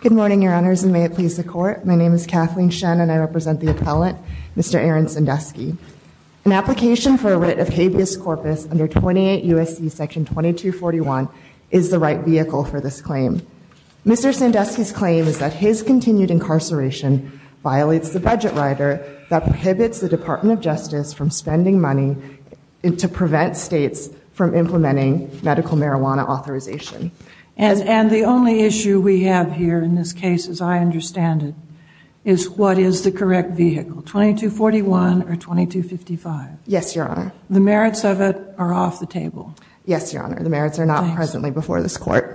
Good morning, Your Honors, and may it please the Court, my name is Kathleen Shen and I present the appellant, Mr. Aaron Sandusky. An application for a writ of habeas corpus under 28 U.S.C. § 2241 is the right vehicle for this claim. Mr. Sandusky's claim is that his continued incarceration violates the budget rider that prohibits the Department of Justice from spending money to prevent states from implementing medical marijuana authorization. And the only issue we have here in this case, as I understand it, is what is the correct vehicle, 2241 or 2255? Yes, Your Honor. The merits of it are off the table. Yes, Your Honor, the merits are not presently before this Court.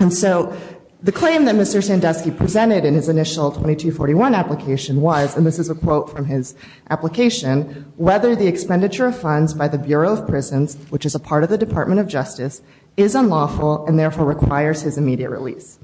And so the claim that Mr. Sandusky presented in his initial 2241 application was, and this is a quote from his application, whether the expenditure of requires his immediate release.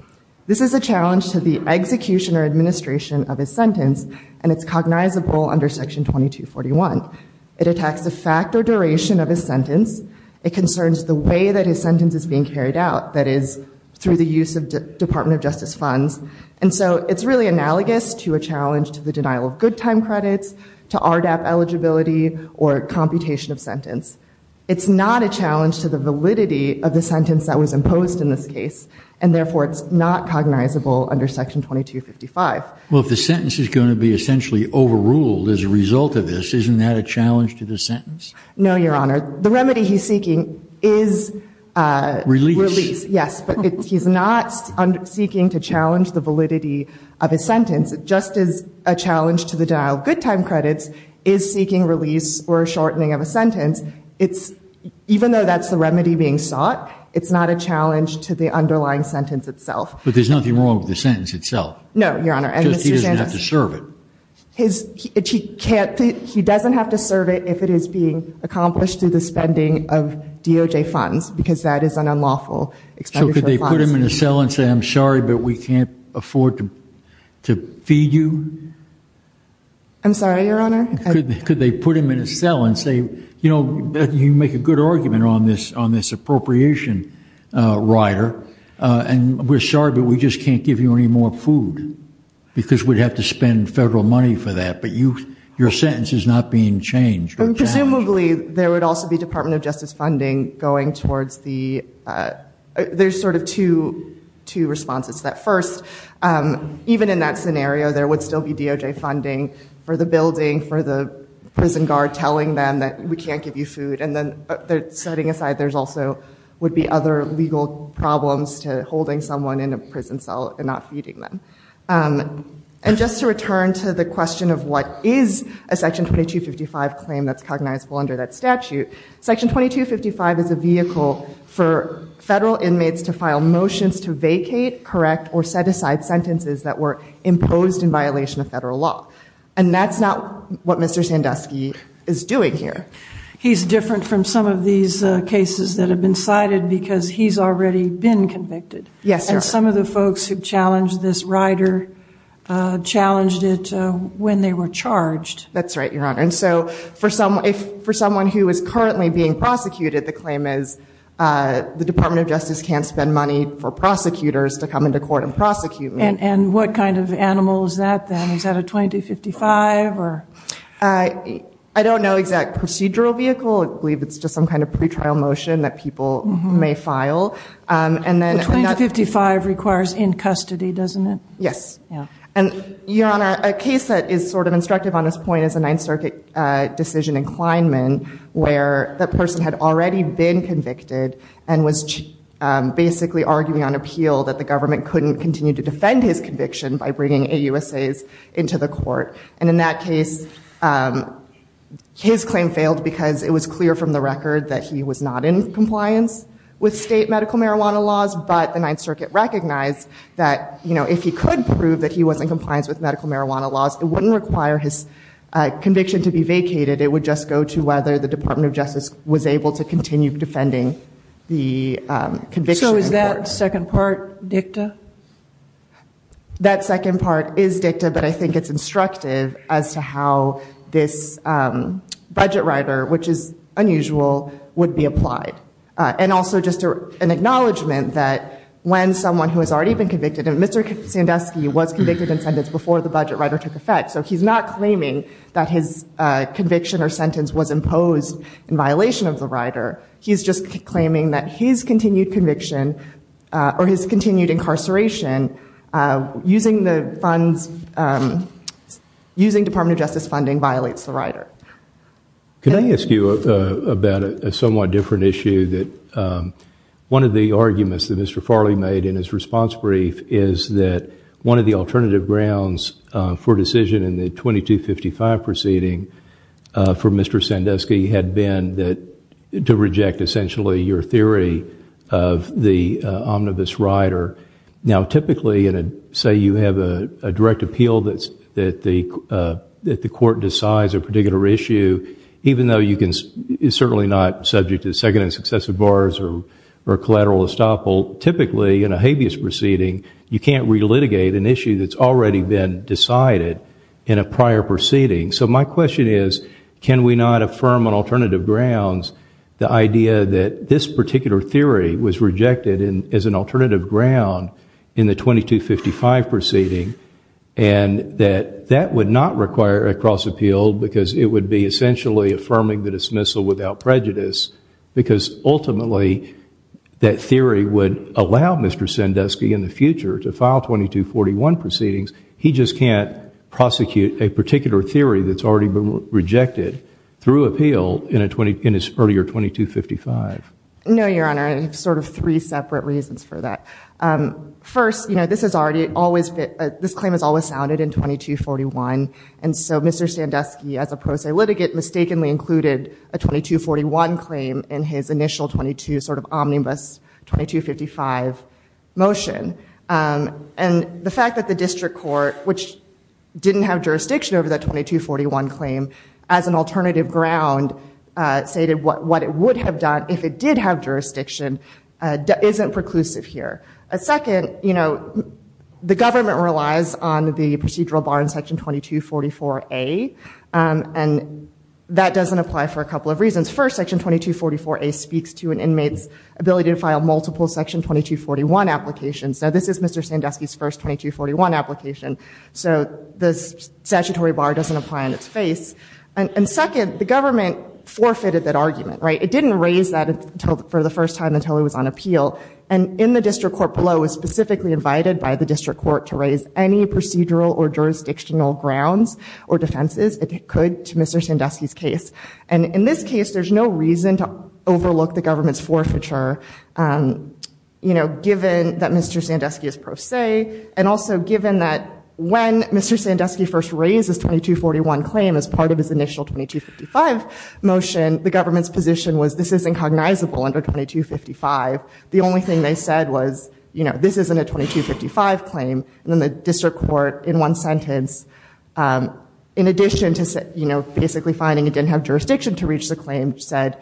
This is a challenge to the execution or administration of his sentence, and it's cognizable under section 2241. It attacks the fact or duration of his sentence. It concerns the way that his sentence is being carried out, that is, through the use of Department of Justice funds. And so it's really analogous to a challenge to the denial of good time credits, to RDAP eligibility, or computation of sentence. It's not a challenge to the validity of the sentence that was imposed in this case, and therefore it's not cognizable under section 2255. Well, if the sentence is going to be essentially overruled as a result of this, isn't that a challenge to the sentence? No, Your Honor. The remedy he's seeking is release. Yes, but he's not seeking to challenge the validity of his sentence, just as a challenge to the denial of good time credits is seeking release or a shortening of a sentence. Even though that's the remedy being sought, it's not a challenge to the underlying sentence itself. But there's nothing wrong with the sentence itself. No, Your Honor. He doesn't have to serve it. He doesn't have to serve it if it is being accomplished through the spending of DOJ funds, because that is an unlawful expenditure. So could they put him in a cell and say, I'm sorry, but we can't afford to feed you? I'm sorry, Your Honor. Could they put him in a cell and say, you know, you make a good argument on this appropriation, Ryder, and we're sorry, but we just can't give you any more food, because we'd have to spend federal money for that. But your sentence is not being changed. Presumably, there would also be Department of Justice funding going towards the, there's sort of two responses to that. First, even in that scenario, there would still be DOJ funding for the building, for the prison guard telling them that we can't give you food. And setting aside, there also would be other legal problems to holding someone in a prison cell and not feeding them. And just to return to the question of what is a Section 2255 claim that's cognizable under that statute, Section 2255 is a vehicle for federal inmates to file motions to vacate, correct, or set aside sentences that were imposed in violation of federal law. And that's not what Mr. Sandusky is doing here. He's different from some of these cases that have been cited because he's already been convicted. Yes, Your Honor. And some of the folks who challenged this, Ryder, challenged it when they were charged. That's right, Your Honor. And so for someone who is currently being prosecuted, the claim is the Department of Justice can't spend money for prosecutors to come into court and prosecute me. And what kind of animal is that, then? Is that a 2255? I don't know exact procedural vehicle. I believe it's just some kind of pretrial motion that people may file. A 2255 requires in custody, doesn't it? Yes. And Your Honor, a case that is sort of instructive on this point is a Ninth Circuit decision in Kleinman, where that person had already been convicted and was basically arguing on appeal that the government couldn't continue to defend his conviction by bringing AUSAs into the court. And in that case, his claim failed because it was clear from the record that he was not in compliance with state medical marijuana laws. But the Ninth Circuit recognized that if he could prove that he was in compliance with medical marijuana laws, it wouldn't require his conviction to be vacated. It would just go to whether the Department of Justice was able to continue defending the conviction in court. So is that second part dicta? That second part is dicta, but I think it's instructive as to how this budget rider, which is unusual, would be applied. And also just an acknowledgment that when someone who has already been convicted, and Mr. Sandusky was convicted in sentence before the budget rider took effect, so he's not claiming that his conviction or sentence was imposed in violation of the rider. He's just claiming that his continued conviction or his continued incarceration using Department of Justice funding violates the rider. Can I ask you about a somewhat different issue that one of the arguments that Mr. Farley made in his response brief is that one of the alternative grounds for decision in the 2255 proceeding for Mr. Sandusky had been to reject essentially your theory of the omnibus rider. Now typically, say you have a direct appeal that the court decides a particular issue, even though it's certainly not subject to second and successive bars or collateral estoppel, typically in a habeas proceeding, you can't re-litigate an issue that's already been decided in a prior proceeding. So my question is, can we not affirm on alternative grounds the idea that this particular theory was rejected as an alternative ground in the 2255 proceeding and that that would not require a cross-appeal because it would be essentially affirming the dismissal without prejudice, because ultimately that theory would allow Mr. Sandusky in the future to file 2241 proceedings. He just can't prosecute a particular theory that's already been rejected through appeal in his earlier 2255. No, Your Honor. I have sort of three separate reasons for that. First, this claim has always sounded in 2241, and so Mr. Sandusky as a pro se litigant mistakenly included a 2241 claim in his initial 22 sort of omnibus 2255 motion. And the fact that the district court, which didn't have jurisdiction over that 2241 claim as an alternative ground, stated what it would have done if it did have jurisdiction isn't preclusive here. Second, you know, the government relies on the procedural bar in section 2244A, and that doesn't apply for a couple of reasons. First, section 2244A speaks to an inmate's ability to file multiple section 2241 applications. So this is Mr. Sandusky's first 2241 application, so the statutory bar doesn't apply on its face. And second, the government forfeited that argument, right? It didn't raise that until for the first time until it was on appeal, and in the district court below was specifically invited by the district court to provide any procedural or jurisdictional grounds or defenses it could to Mr. Sandusky's case. And in this case, there's no reason to overlook the government's forfeiture, you know, given that Mr. Sandusky is pro se, and also given that when Mr. Sandusky first raised his 2241 claim as part of his initial 2255 motion, the government's position was this is incognizable under 2255. The only thing they said was, you know, this isn't a 2255 claim. And then the district court, in one sentence, in addition to, you know, basically finding it didn't have jurisdiction to reach the claim, said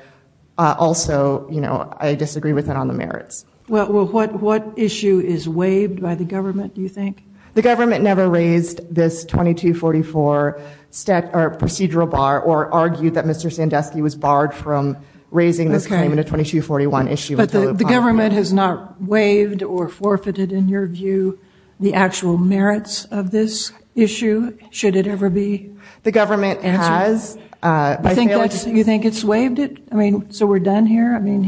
also, you know, I disagree with it on the merits. Well, what issue is waived by the government, do you think? The government never raised this 2244 procedural bar or argued that Mr. Sandusky was barred from raising this claim in a 2241 issue. The government has not waived or forfeited, in your view, the actual merits of this issue, should it ever be answered? The government has. You think it's waived it? I mean, so we're done here? I mean,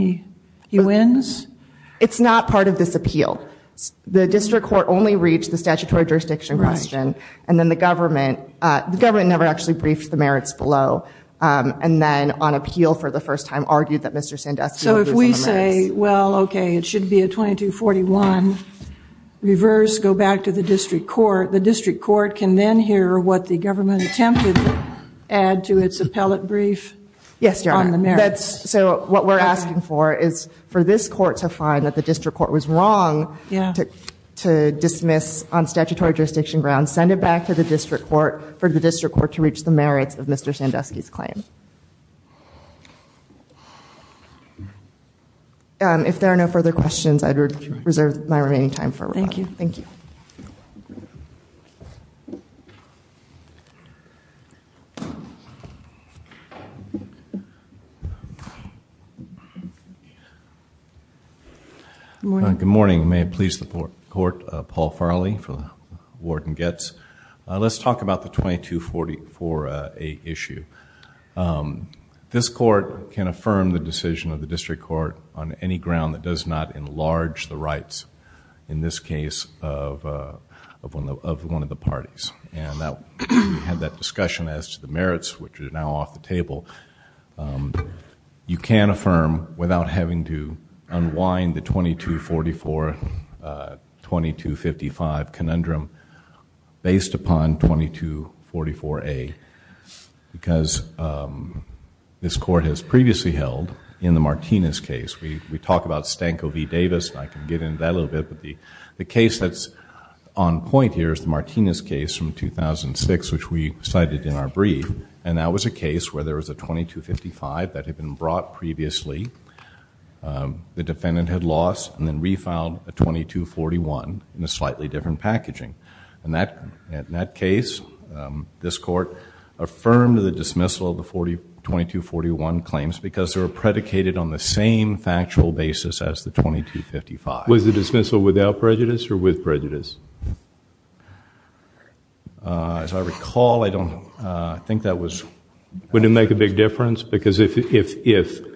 he wins? It's not part of this appeal. The district court only reached the statutory jurisdiction question, and then the government never actually briefed the merits below, and then on appeal for the first time argued that Mr. Sandusky was on the merits. So if we say, well, okay, it should be a 2241, reverse, go back to the district court, the district court can then hear what the government attempted to add to its appellate brief. Yes, Your Honor. So what we're asking for is for this court to find that the district court was wrong to dismiss on statutory jurisdiction grounds, send it back to the district court, for the district court to reach the merits of Mr. Sandusky's claim. And if there are no further questions, I'd reserve my remaining time for. Thank you. Thank you. Good morning. May it please the court, Paul Farley for the ward and gets. Let's talk about the 2244A issue. This court can affirm the decision of the district court on any ground that does not enlarge the rights, in this case, of one of the parties. And we had that discussion as to the merits, which are now off the table. You can affirm without having to unwind the 2244, 2255 conundrum based upon 2244A, because this court has previously held in the Martinez case. We talk about Stanko v. Davis, and I can get into that a little bit, but the case that's on point here is the Martinez case from 2006, which we cited in our brief. And that was a case where there was a 2255 that had been brought previously. The defendant had lost and then refiled a 2241 in a slightly different packaging. And in that case, this court affirmed the dismissal of the 2241 claims because they were predicated on the same factual basis as the 2255. As I recall, I don't think that was... Wouldn't it make a big difference? Because if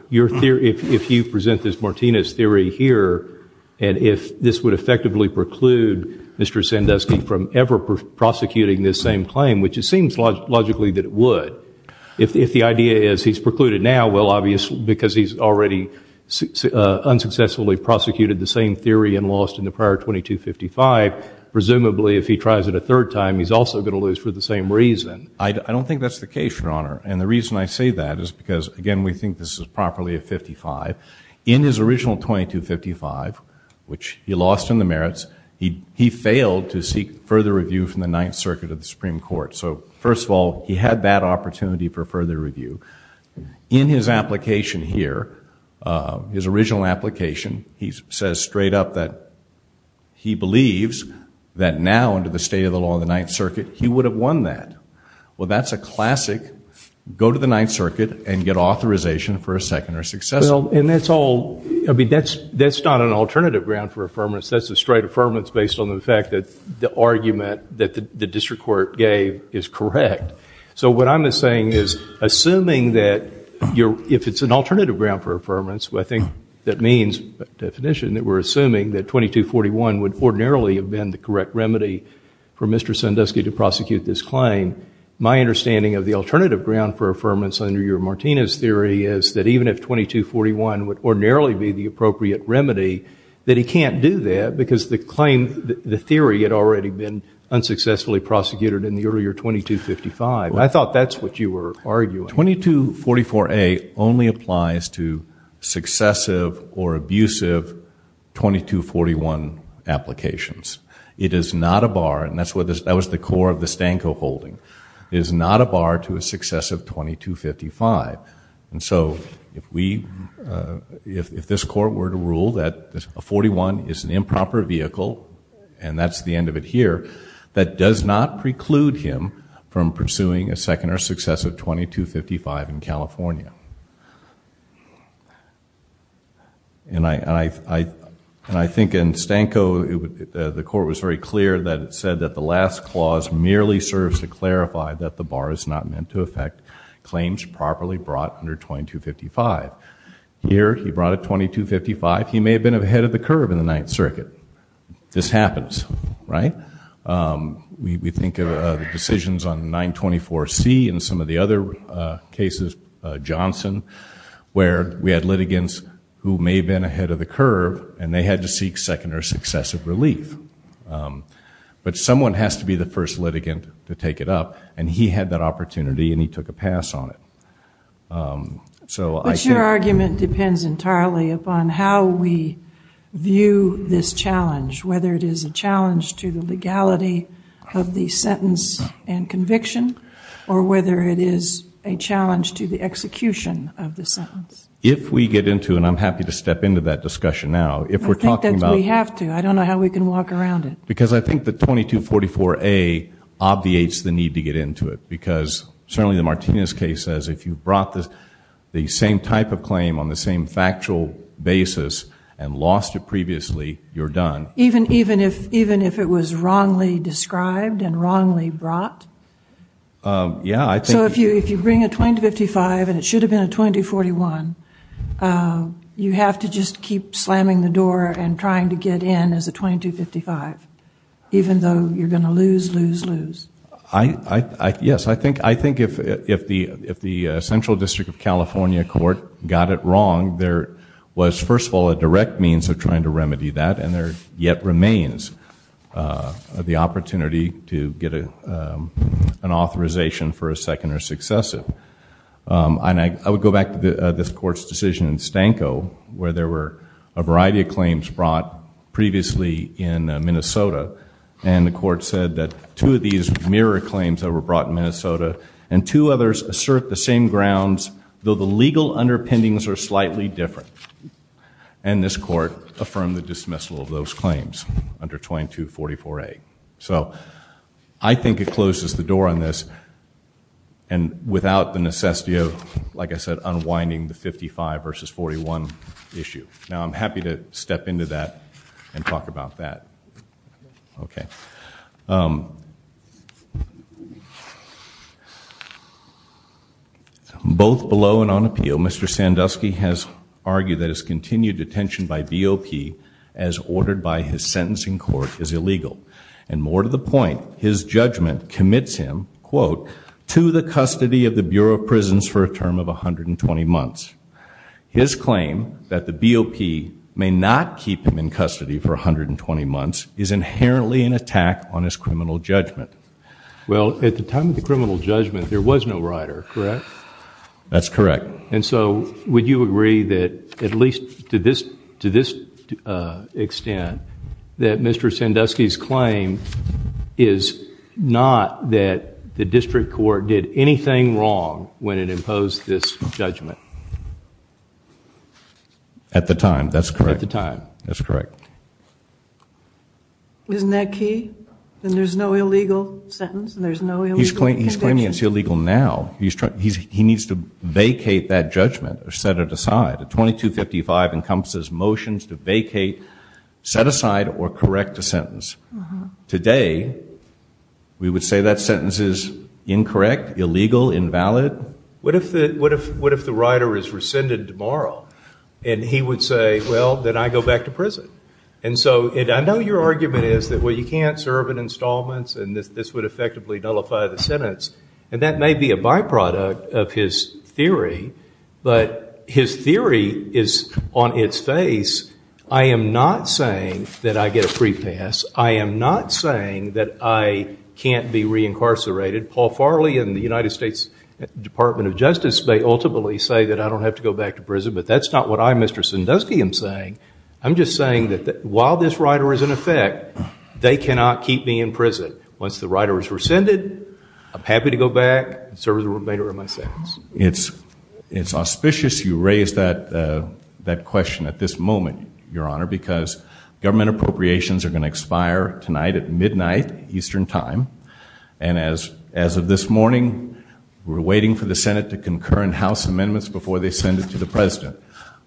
you present this Martinez theory here, and if this would effectively preclude Mr. Sandusky from ever prosecuting this same claim, which it seems logically that it would, if the idea is he's precluded now, well, obviously, because he's already unsuccessfully prosecuted the same theory and lost in the prior 2255, presumably, if he tries it a third time, he's also going to lose for the same reason. I don't think that's the case, Your Honor. And the reason I say that is because, again, we think this is properly a 55. In his original 2255, which he lost in the merits, he failed to seek further review from the Ninth Circuit of the Supreme Court. So, first of all, he had that opportunity for further review. In his application here, his original application, he says straight up that he believes that now, under the state of the law of the Ninth Circuit, he would have won that. Well, that's a classic, go to the Ninth Circuit and get authorization for a second or successful. And that's all, I mean, that's not an alternative ground for affirmance. That's a straight affirmance based on the fact that the argument that the district court gave is correct. So what I'm saying is, assuming that you're, if it's an alternative ground for affirmance, I think that means, by definition, that we're assuming that 2241 would ordinarily have been the correct remedy for Mr. Sandusky to prosecute this claim. My understanding of the alternative ground for affirmance under your Martinez theory is that even if 2241 would ordinarily be the appropriate remedy, that he can't do that because the claim, the theory had already been unsuccessfully prosecuted in the earlier 2255. I thought that's what you were arguing. Well, 2244A only applies to successive or abusive 2241 applications. It is not a bar, and that was the core of the Stanko holding, it is not a bar to a successive 2255. And so, if this court were to rule that a 41 is an improper vehicle, and that's the end of it here, that does not preclude him from pursuing a second or successive 2255 in California. And I think in Stanko, the court was very clear that it said that the last clause merely serves to clarify that the bar is not meant to affect claims properly brought under 2255. Here, he brought a 2255. He may have been ahead of the curve in the Ninth Circuit. This happens, right? We think of the decisions on 924C and some of the other cases, Johnson, where we had litigants who may have been ahead of the curve, and they had to seek second or successive relief. But someone has to be the first litigant to take it up, and he had that opportunity, and he took a pass on it. But your argument depends entirely upon how we view this challenge, whether it is a challenge to the legality of the sentence and conviction, or whether it is a challenge to the execution of the sentence. If we get into, and I'm happy to step into that discussion now, if we're talking about- We have to. I don't know how we can walk around it. Because I think the 2244A obviates the need to get into it, because certainly the Martinez case says, if you brought the same type of claim on the same factual basis and lost it previously, you're done. Even if it was wrongly described and wrongly brought? Yeah, I think- So if you bring a 2255, and it should have been a 2241, you have to just keep slamming the door and trying to get in as a 2255, even though you're going to lose, lose, lose. Yes, I think if the Central District of California court got it wrong, there was, first of all, a direct means of trying to remedy that, and there yet remains the opportunity to get an authorization for a second or successive. And I would go back to this court's decision in Stanko, where there were a variety of claims brought previously in Minnesota. And the court said that two of these mirror claims that were brought in Minnesota, and two others assert the same grounds, though the legal underpinnings are slightly different. And this court affirmed the dismissal of those claims under 2244A. So I think it closes the door on this, and without the necessity of, like I said, unwinding the 55 versus 41 issue. Now, I'm happy to step into that and talk about that. Okay. Both below and on appeal, Mr. Sandusky has argued that his continued detention by BOP as ordered by his sentencing court is illegal. And more to the point, his judgment commits him, quote, to the custody of the Bureau of Prisons for a term of 120 months. His claim that the BOP may not keep him in custody for 120 months is inherently an attack on his criminal judgment. Well, at the time of the criminal judgment, there was no rider, correct? That's correct. And so would you agree that at least to this extent, that Mr. Sandusky's claim is not that the district court did anything wrong when it imposed this judgment? At the time, that's correct. At the time. That's correct. Isn't that key? Then there's no illegal sentence and there's no illegal conviction? He's claiming it's illegal now. He needs to vacate that judgment or set it aside. A 2255 encompasses motions to vacate, set aside, or correct a sentence. Today, we would say that sentence is incorrect, illegal, invalid. What if the rider is rescinded tomorrow and he would say, well, then I go back to prison? And so I know your argument is that, well, you can't serve in installments and this would effectively nullify the sentence. And that may be a byproduct of his theory, but his theory is on its face. I am not saying that I get a free pass. I am not saying that I can't be reincarcerated. Paul Farley in the United States Department of Justice may ultimately say that I don't have to go back to prison, but that's not what I, Mr. Sandusky, am saying. I'm just saying that while this rider is in effect, they cannot keep me in prison. Once the rider is rescinded, I'm happy to go back and serve the remainder of my sentence. It's auspicious you raised that question at this moment, Your Honor, because government appropriations are going to expire tonight at midnight Eastern time. And as of this morning, we're waiting for the Senate to concur in House amendments before they send it to the President.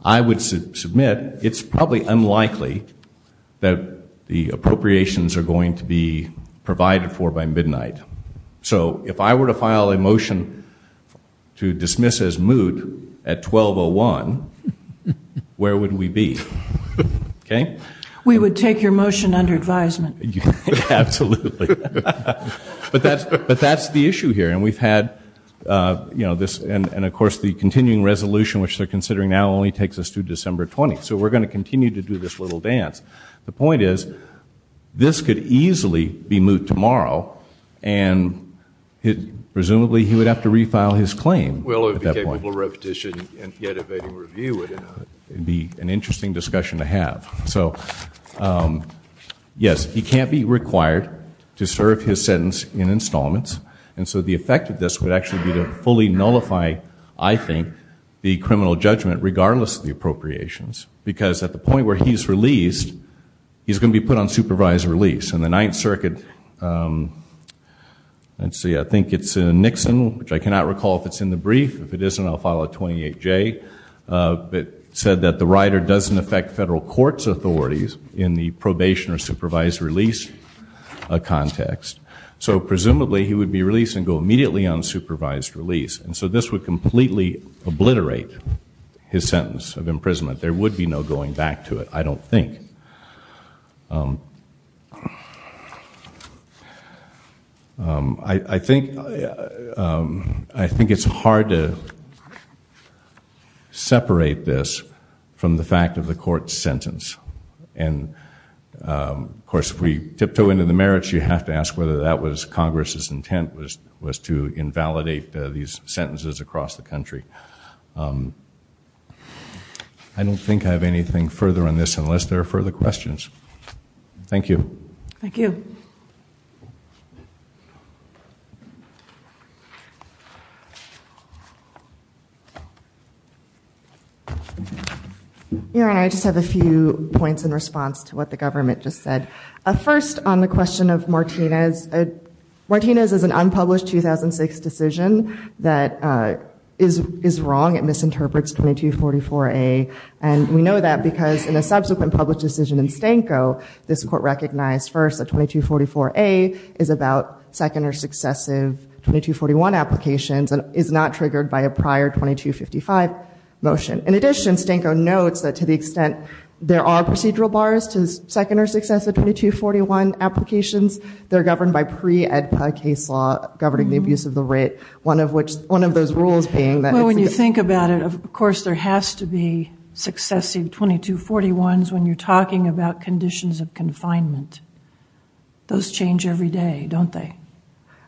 I would submit it's probably unlikely that the appropriations are going to be provided for by midnight. So if I were to file a motion to dismiss as moot at 12.01, where would we be? Okay? We would take your motion under advisement. Absolutely. But that's the issue here. And we've had, you know, this and of course the continuing resolution, which they're only takes us to December 20th. So we're going to continue to do this little dance. The point is, this could easily be moot tomorrow. And presumably he would have to refile his claim. Well, it would be capable of repetition and yet evading review. It would be an interesting discussion to have. So yes, he can't be required to serve his sentence in installments. And so the effect of this would actually be to fully nullify, I think, the criminal judgment regardless of the appropriations. Because at the point where he's released, he's going to be put on supervised release. And the Ninth Circuit, let's see, I think it's in Nixon, which I cannot recall if it's in the brief. If it isn't, I'll file a 28J, but said that the rider doesn't affect federal courts authorities in the probation or supervised release context. So presumably he would be released and go immediately on supervised release. And so this would completely obliterate his sentence of imprisonment. There would be no going back to it, I don't think. I think it's hard to separate this from the fact of the court's sentence. And of course, if we tiptoe into the merits, you have to ask whether that was Congress's sentences across the country. I don't think I have anything further on this unless there are further questions. Thank you. Thank you. Your Honor, I just have a few points in response to what the government just said. First, on the question of Martinez. Martinez is an unpublished 2006 decision that is wrong. It misinterprets 2244A. And we know that because in a subsequent public decision in Stanko, this court recognized first that 2244A is about second or successive 2241 applications and is not triggered by a prior 2255 motion. In addition, Stanko notes that to the extent there are procedural bars to second or successive 2241 applications, they're governed by pre-EDPA case law governing the abuse of the writ, one of which, one of those rules being that- Well, when you think about it, of course, there has to be successive 2241s when you're talking about conditions of confinement. Those change every day, don't they?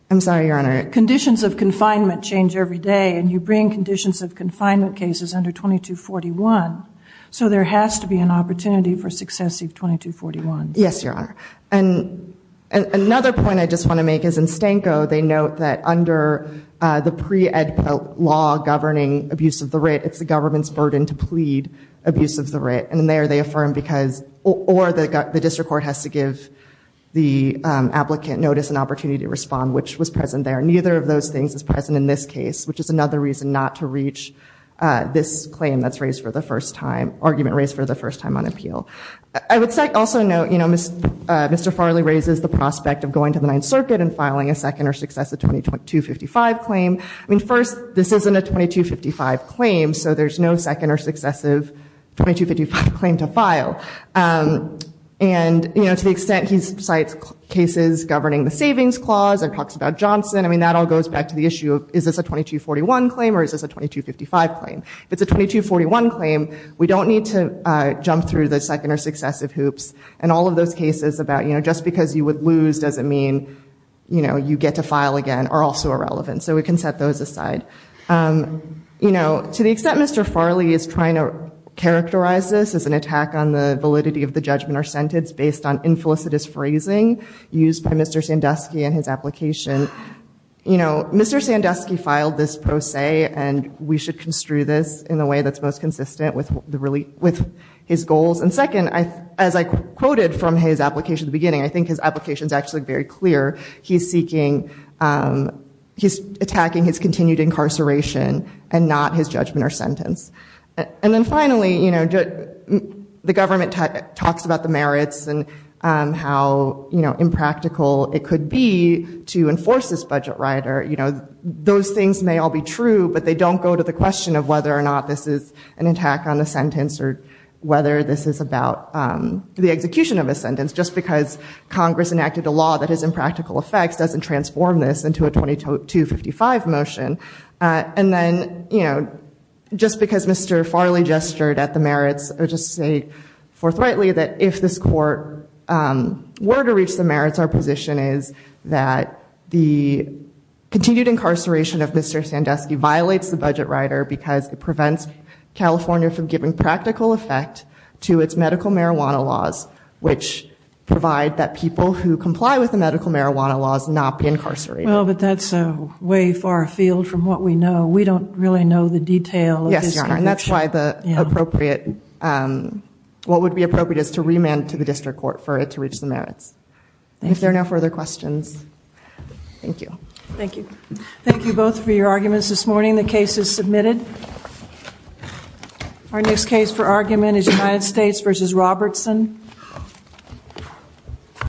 I'm sorry, Your Honor. Conditions of confinement change every day. And you bring conditions of confinement cases under 2241. So there has to be an opportunity for successive 2241s. Yes, Your Honor. And another point I just want to make is in Stanko, they note that under the pre-EDPA law governing abuse of the writ, it's the government's burden to plead abuse of the writ. And there they affirm because or the district court has to give the applicant notice and opportunity to respond, which was present there. Neither of those things is present in this case, which is another reason not to reach this claim that's raised for the first time, argument raised for the first time on appeal. I would also note Mr. Farley raises the prospect of going to the Ninth Circuit and filing a second or successive 2255 claim. I mean, first, this isn't a 2255 claim. So there's no second or successive 2255 claim to file. And to the extent he cites cases governing the Savings Clause and talks about Johnson, I mean, that all goes back to the issue of is this a 2241 claim or is this a 2255 claim? If it's a 2241 claim, we don't need to jump through the second or successive hoops. And all of those cases about just because you would lose doesn't mean you get to file again are also irrelevant. So we can set those aside. To the extent Mr. Farley is trying to characterize this as an attack on the validity of the judgment or sentence based on infelicitous phrasing used by Mr. Sandusky and his application, you know, Mr. Sandusky filed this pro se, and we should construe this in a way that's most consistent with his goals. And second, as I quoted from his application at the beginning, I think his application is actually very clear. He's seeking, he's attacking his continued incarceration and not his judgment or sentence. And then finally, you know, the government talks about the merits and how impractical it could be to enforce this budget, right? Or, you know, those things may all be true, but they don't go to the question of whether or not this is an attack on the sentence or whether this is about the execution of a sentence just because Congress enacted a law that has impractical effects doesn't transform this into a 2255 motion. And then, you know, just because Mr. Farley gestured at the merits or just say forthrightly that if this court were to reach the merits, our position is that the continued incarceration of Mr. Sandusky violates the budget rider because it prevents California from giving practical effect to its medical marijuana laws, which provide that people who comply with the medical marijuana laws not be incarcerated. Well, but that's a way far afield from what we know. We don't really know the detail. That's why the appropriate, what would be appropriate is to remand to the district court for it to reach the merits. If there are no further questions. Thank you. Thank you. Thank you both for your arguments this morning. The case is submitted. Our next case for argument is United States versus Robertson.